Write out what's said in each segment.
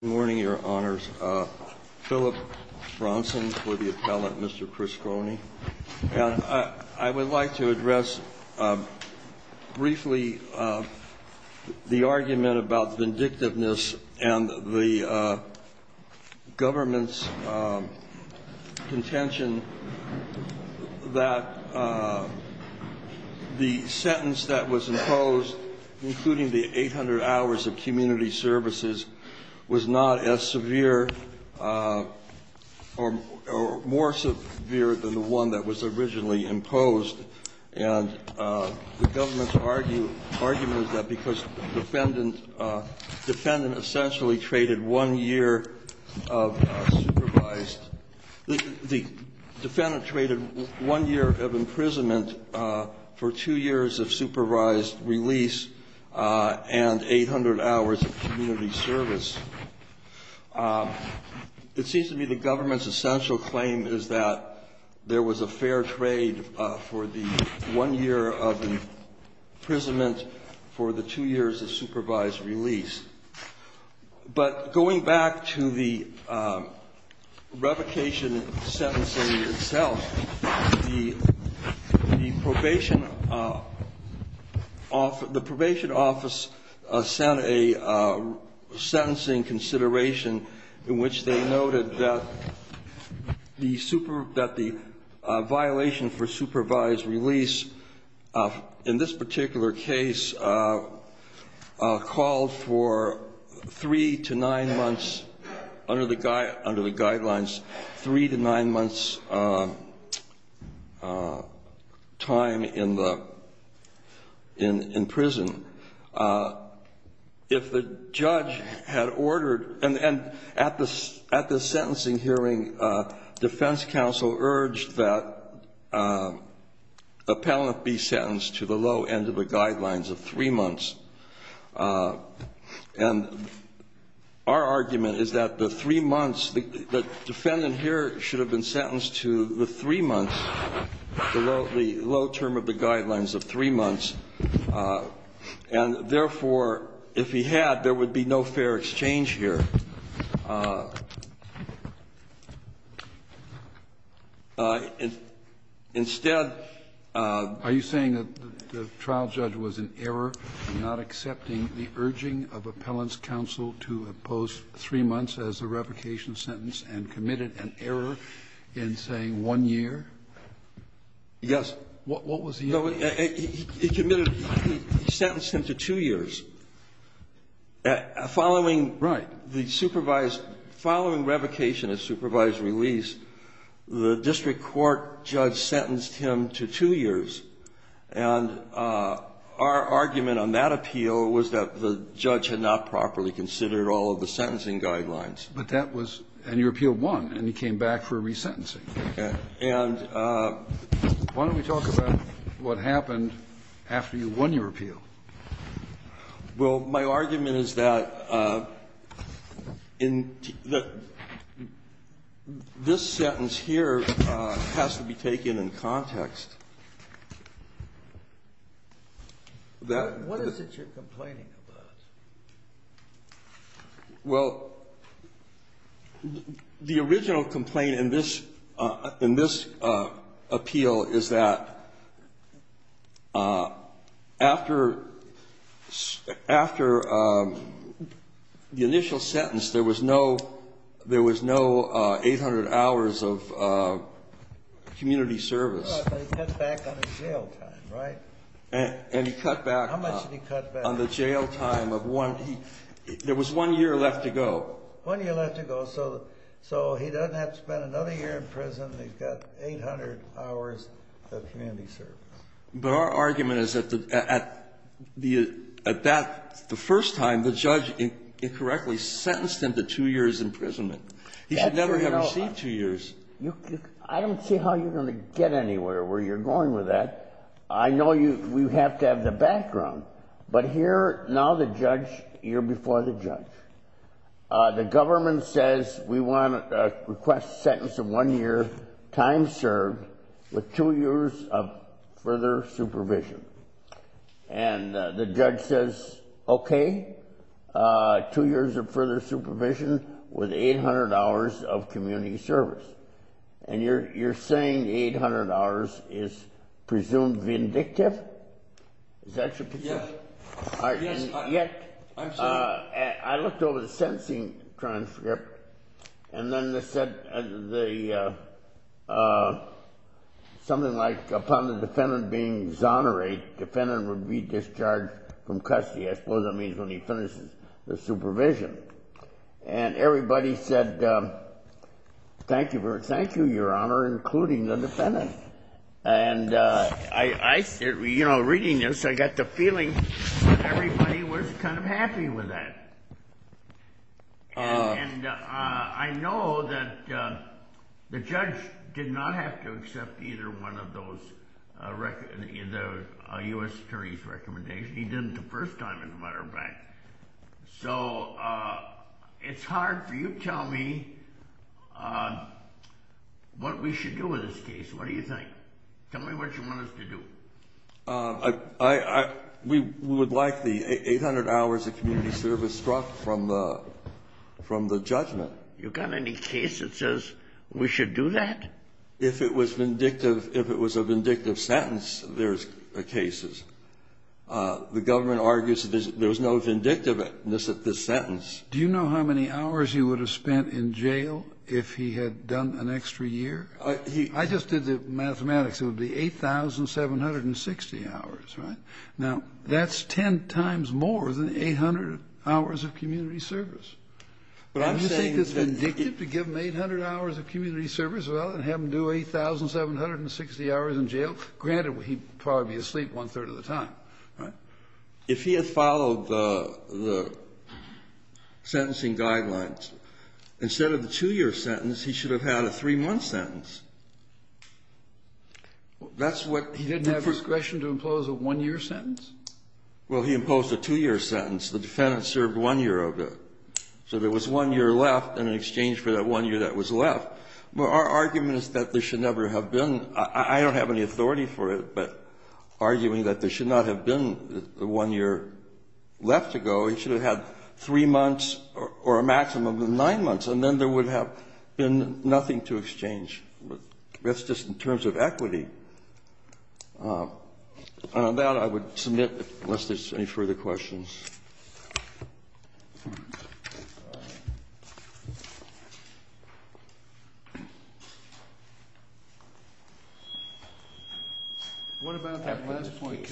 Good morning, your honors. Philip Bronson for the appellate, Mr. Criscione. I would like to address briefly the argument about vindictiveness and the government's contention that the sentence that was imposed, including the 800 hours of community services, was not as severe or more severe than the one that was originally imposed. And the government's argument is that because the defendant essentially traded one year of supervised – the defendant traded one year of imprisonment for two years of supervised release and 800 hours of community service, it seems to me the government's essential claim is that there was a fair trade for the one year of imprisonment for the two years of supervised release. But going back to the revocation sentencing itself, the probation office sent a sentencing consideration in which they noted that the violation for supervised release in this particular case called for three to nine months under the guidelines, three to nine months' time in the – in prison. If the judge had ordered – and at the sentencing hearing, defense counsel urged that guidelines of three months. And our argument is that the three months – the defendant here should have been sentenced to the three months, the low term of the guidelines of three months, and therefore, if he had, there would be no fair exchange here. Instead, are you saying that the trial judge was in error in not accepting the urging of appellant's counsel to impose three months as a revocation sentence and committed an error in saying one year? Yes. What was the error? He committed – he sentenced him to two years. Following – Right. The supervised – following revocation of supervised release, the district court judge sentenced him to two years. And our argument on that appeal was that the judge had not properly considered all of the sentencing guidelines. But that was – and your appeal won, and he came back for resentencing. Okay. And why don't we talk about what happened after you won your appeal? Well, my argument is that in the – this sentence here has to be taken in context. That – What is it you're complaining about? Well, the original complaint in this – in this appeal is that after – after the initial sentence, there was no – there was no 800 hours of community service. No, but he cut back on his jail time, right? And he cut back on the jail time of 800 hours. Of one – there was one year left to go. One year left to go, so he doesn't have to spend another year in prison. He's got 800 hours of community service. But our argument is that at the – at that – the first time, the judge incorrectly sentenced him to two years imprisonment. He should never have received two years. I don't see how you're going to get anywhere where you're going with that. I know you – we have to have the background. But here, now the judge – you're before the judge. The government says we want a request sentence of one year, time served, with two years of further supervision. And the judge says, okay, two years of further supervision with 800 hours of community service. And you're saying 800 hours is presumed vindictive? Is that your position? Yes, I'm saying – I looked over the sentencing transcript, and then they said the – something like upon the defendant being exonerated, the defendant would be discharged from custody. I suppose that means when he finishes the supervision. And everybody said, thank you, Your Honor, including the defendant. And I – reading this, I got the feeling everybody was kind of happy with that. And I know that the judge did not have to accept either one of those – the U.S. attorney's recommendation. He didn't the first time, as a matter of fact. So it's hard for you to tell me what we should do with this case. What do you think? Tell me what you want us to do. We would like the 800 hours of community service struck from the judgment. You got any case that says we should do that? If it was vindictive – if it was a vindictive sentence, there's cases. The government argues that there's no vindictiveness at this sentence. Do you know how many hours you would have spent in jail if he had done an extra year? I just did the mathematics. It would be 8,760 hours, right? Now, that's 10 times more than 800 hours of community service. But I'm saying – Do you think it's vindictive to give him 800 hours of community service, rather than have him do 8,760 hours in jail? Granted, he'd probably be asleep one-third of the time. Right. If he had followed the sentencing guidelines, instead of the two-year sentence, he should have had a three-month sentence. That's what – He didn't have discretion to impose a one-year sentence? Well, he imposed a two-year sentence. The defendant served one year of it. So there was one year left in exchange for that one year that was left. Our argument is that there should never have been – I don't have any authority for it, but arguing that there should not have been one year left to go, he should have had three months or a maximum of nine months, and then there would have been nothing to exchange. That's just in terms of equity. On that, I would submit, unless there's any further questions. What about the last point, counsel?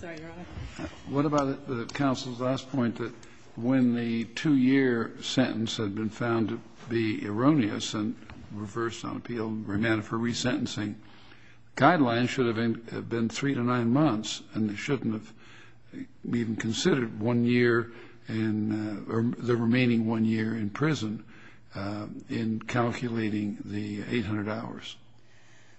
Sorry, Your Honor. What about the counsel's last point that when the two-year sentence had been found to be erroneous and reversed on appeal and remanded for resentencing, guidelines should have been three to nine months, and they shouldn't have even considered one year in – or the remaining one year in prison in calculating the 800 hours?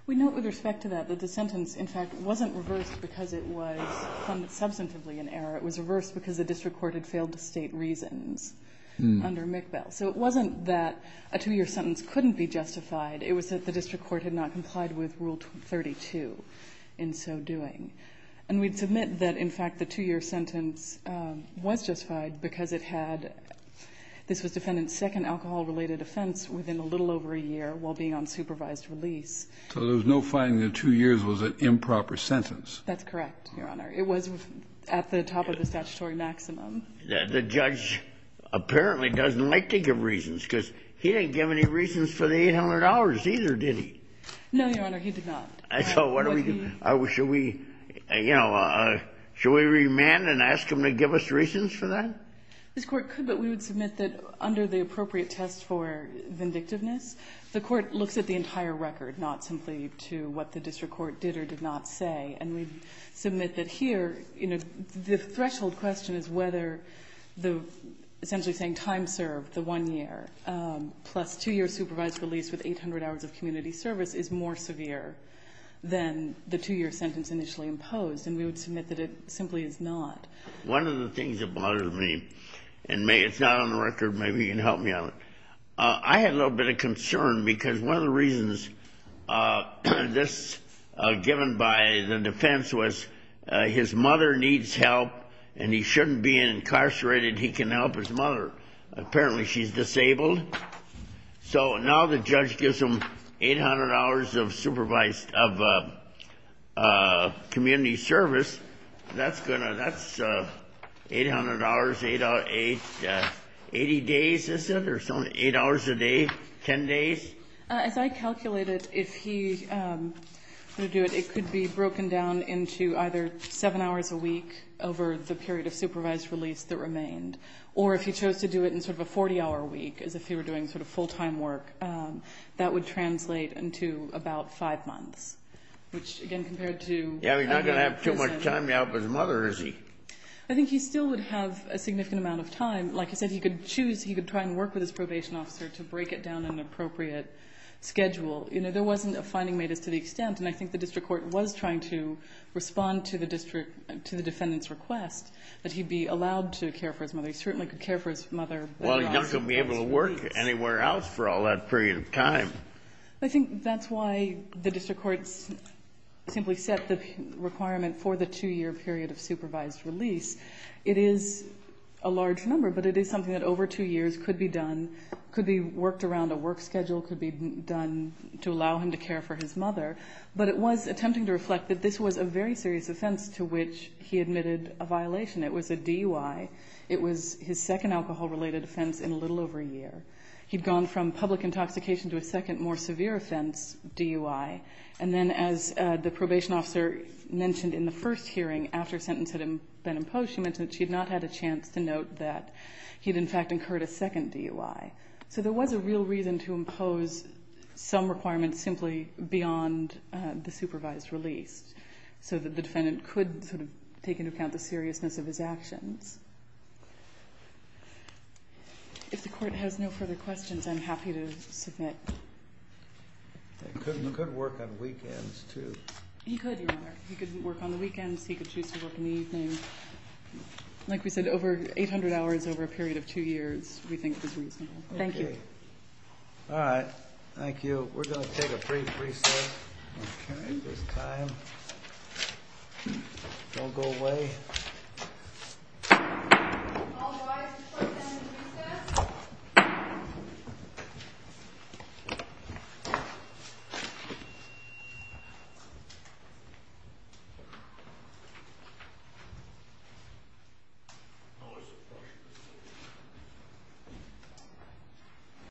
We note with respect to that that the sentence, in fact, wasn't reversed because it was found substantively in error. It was reversed because the district court had failed to state reasons under McBell. So it wasn't that a two-year sentence couldn't be justified. It was that the district court had not complied with Rule 32 in so doing. And we'd submit that, in fact, the two-year sentence was justified because it had – this was Defendant's second alcohol-related offense within a little over a year while being on supervised release. So there was no finding that two years was an improper sentence? That's correct, Your Honor. It was at the top of the statutory maximum. The judge apparently doesn't like to give reasons because he didn't give any reasons for the 800 hours either, did he? No, Your Honor. He did not. So what do we do? Should we, you know, should we remand and ask him to give us reasons for that? This Court could, but we would submit that under the appropriate test for vindictiveness, the Court looks at the entire record, not simply to what the district court did or did not say. And we'd submit that here, you know, the threshold question is whether the essentially saying time served, the one year, plus two-year supervised release with 800 hours of community service is more severe than the two-year sentence initially imposed. And we would submit that it simply is not. One of the things that bothered me, and it's not on the record. Maybe you can help me on it. I had a little bit of concern because one of the reasons this was given by the defense was his mother needs help and he shouldn't be incarcerated. He can help his mother. Apparently she's disabled. So now the judge gives him 800 hours of community service. That's 800 hours, 80 days, is it? Or it's only 8 hours a day, 10 days? As I calculated, if he were to do it, it could be broken down into either 7 hours a week over the period of supervised release that remained, or if he chose to do it in sort of a 40-hour week, as if he were doing sort of full-time work, that would I think he still would have a significant amount of time. Like I said, he could choose. He could try and work with his probation officer to break it down in an appropriate schedule. You know, there wasn't a finding made as to the extent, and I think the district court was trying to respond to the defendant's request that he be allowed to care for his mother. He certainly could care for his mother. Well, he doesn't have to be able to work anywhere else for all that period of time. I think that's why the district courts simply set the requirement for the 2-year period of supervised release. It is a large number, but it is something that over 2 years could be done, could be worked around a work schedule, could be done to allow him to care for his mother. But it was attempting to reflect that this was a very serious offense to which he admitted a violation. It was a DUI. It was his second alcohol-related offense in a little over a year. He'd gone from public intoxication to a second, more severe offense DUI. And then as the probation officer mentioned in the first hearing, after a sentence had been imposed, she mentioned that she had not had a chance to note that he had, in fact, incurred a second DUI. So there was a real reason to impose some requirements simply beyond the supervised release so that the defendant could sort of take into account the seriousness of his actions. If the court has no further questions, I'm happy to submit. He could work on weekends, too. He could, Your Honor. He could work on the weekends. He could choose to work in the evening. Like we said, over 800 hours over a period of 2 years, we think it was reasonable. Thank you. All right. Thank you. We're going to take a brief recess. We're carrying this time. Don't go away. All rise for a moment of recess.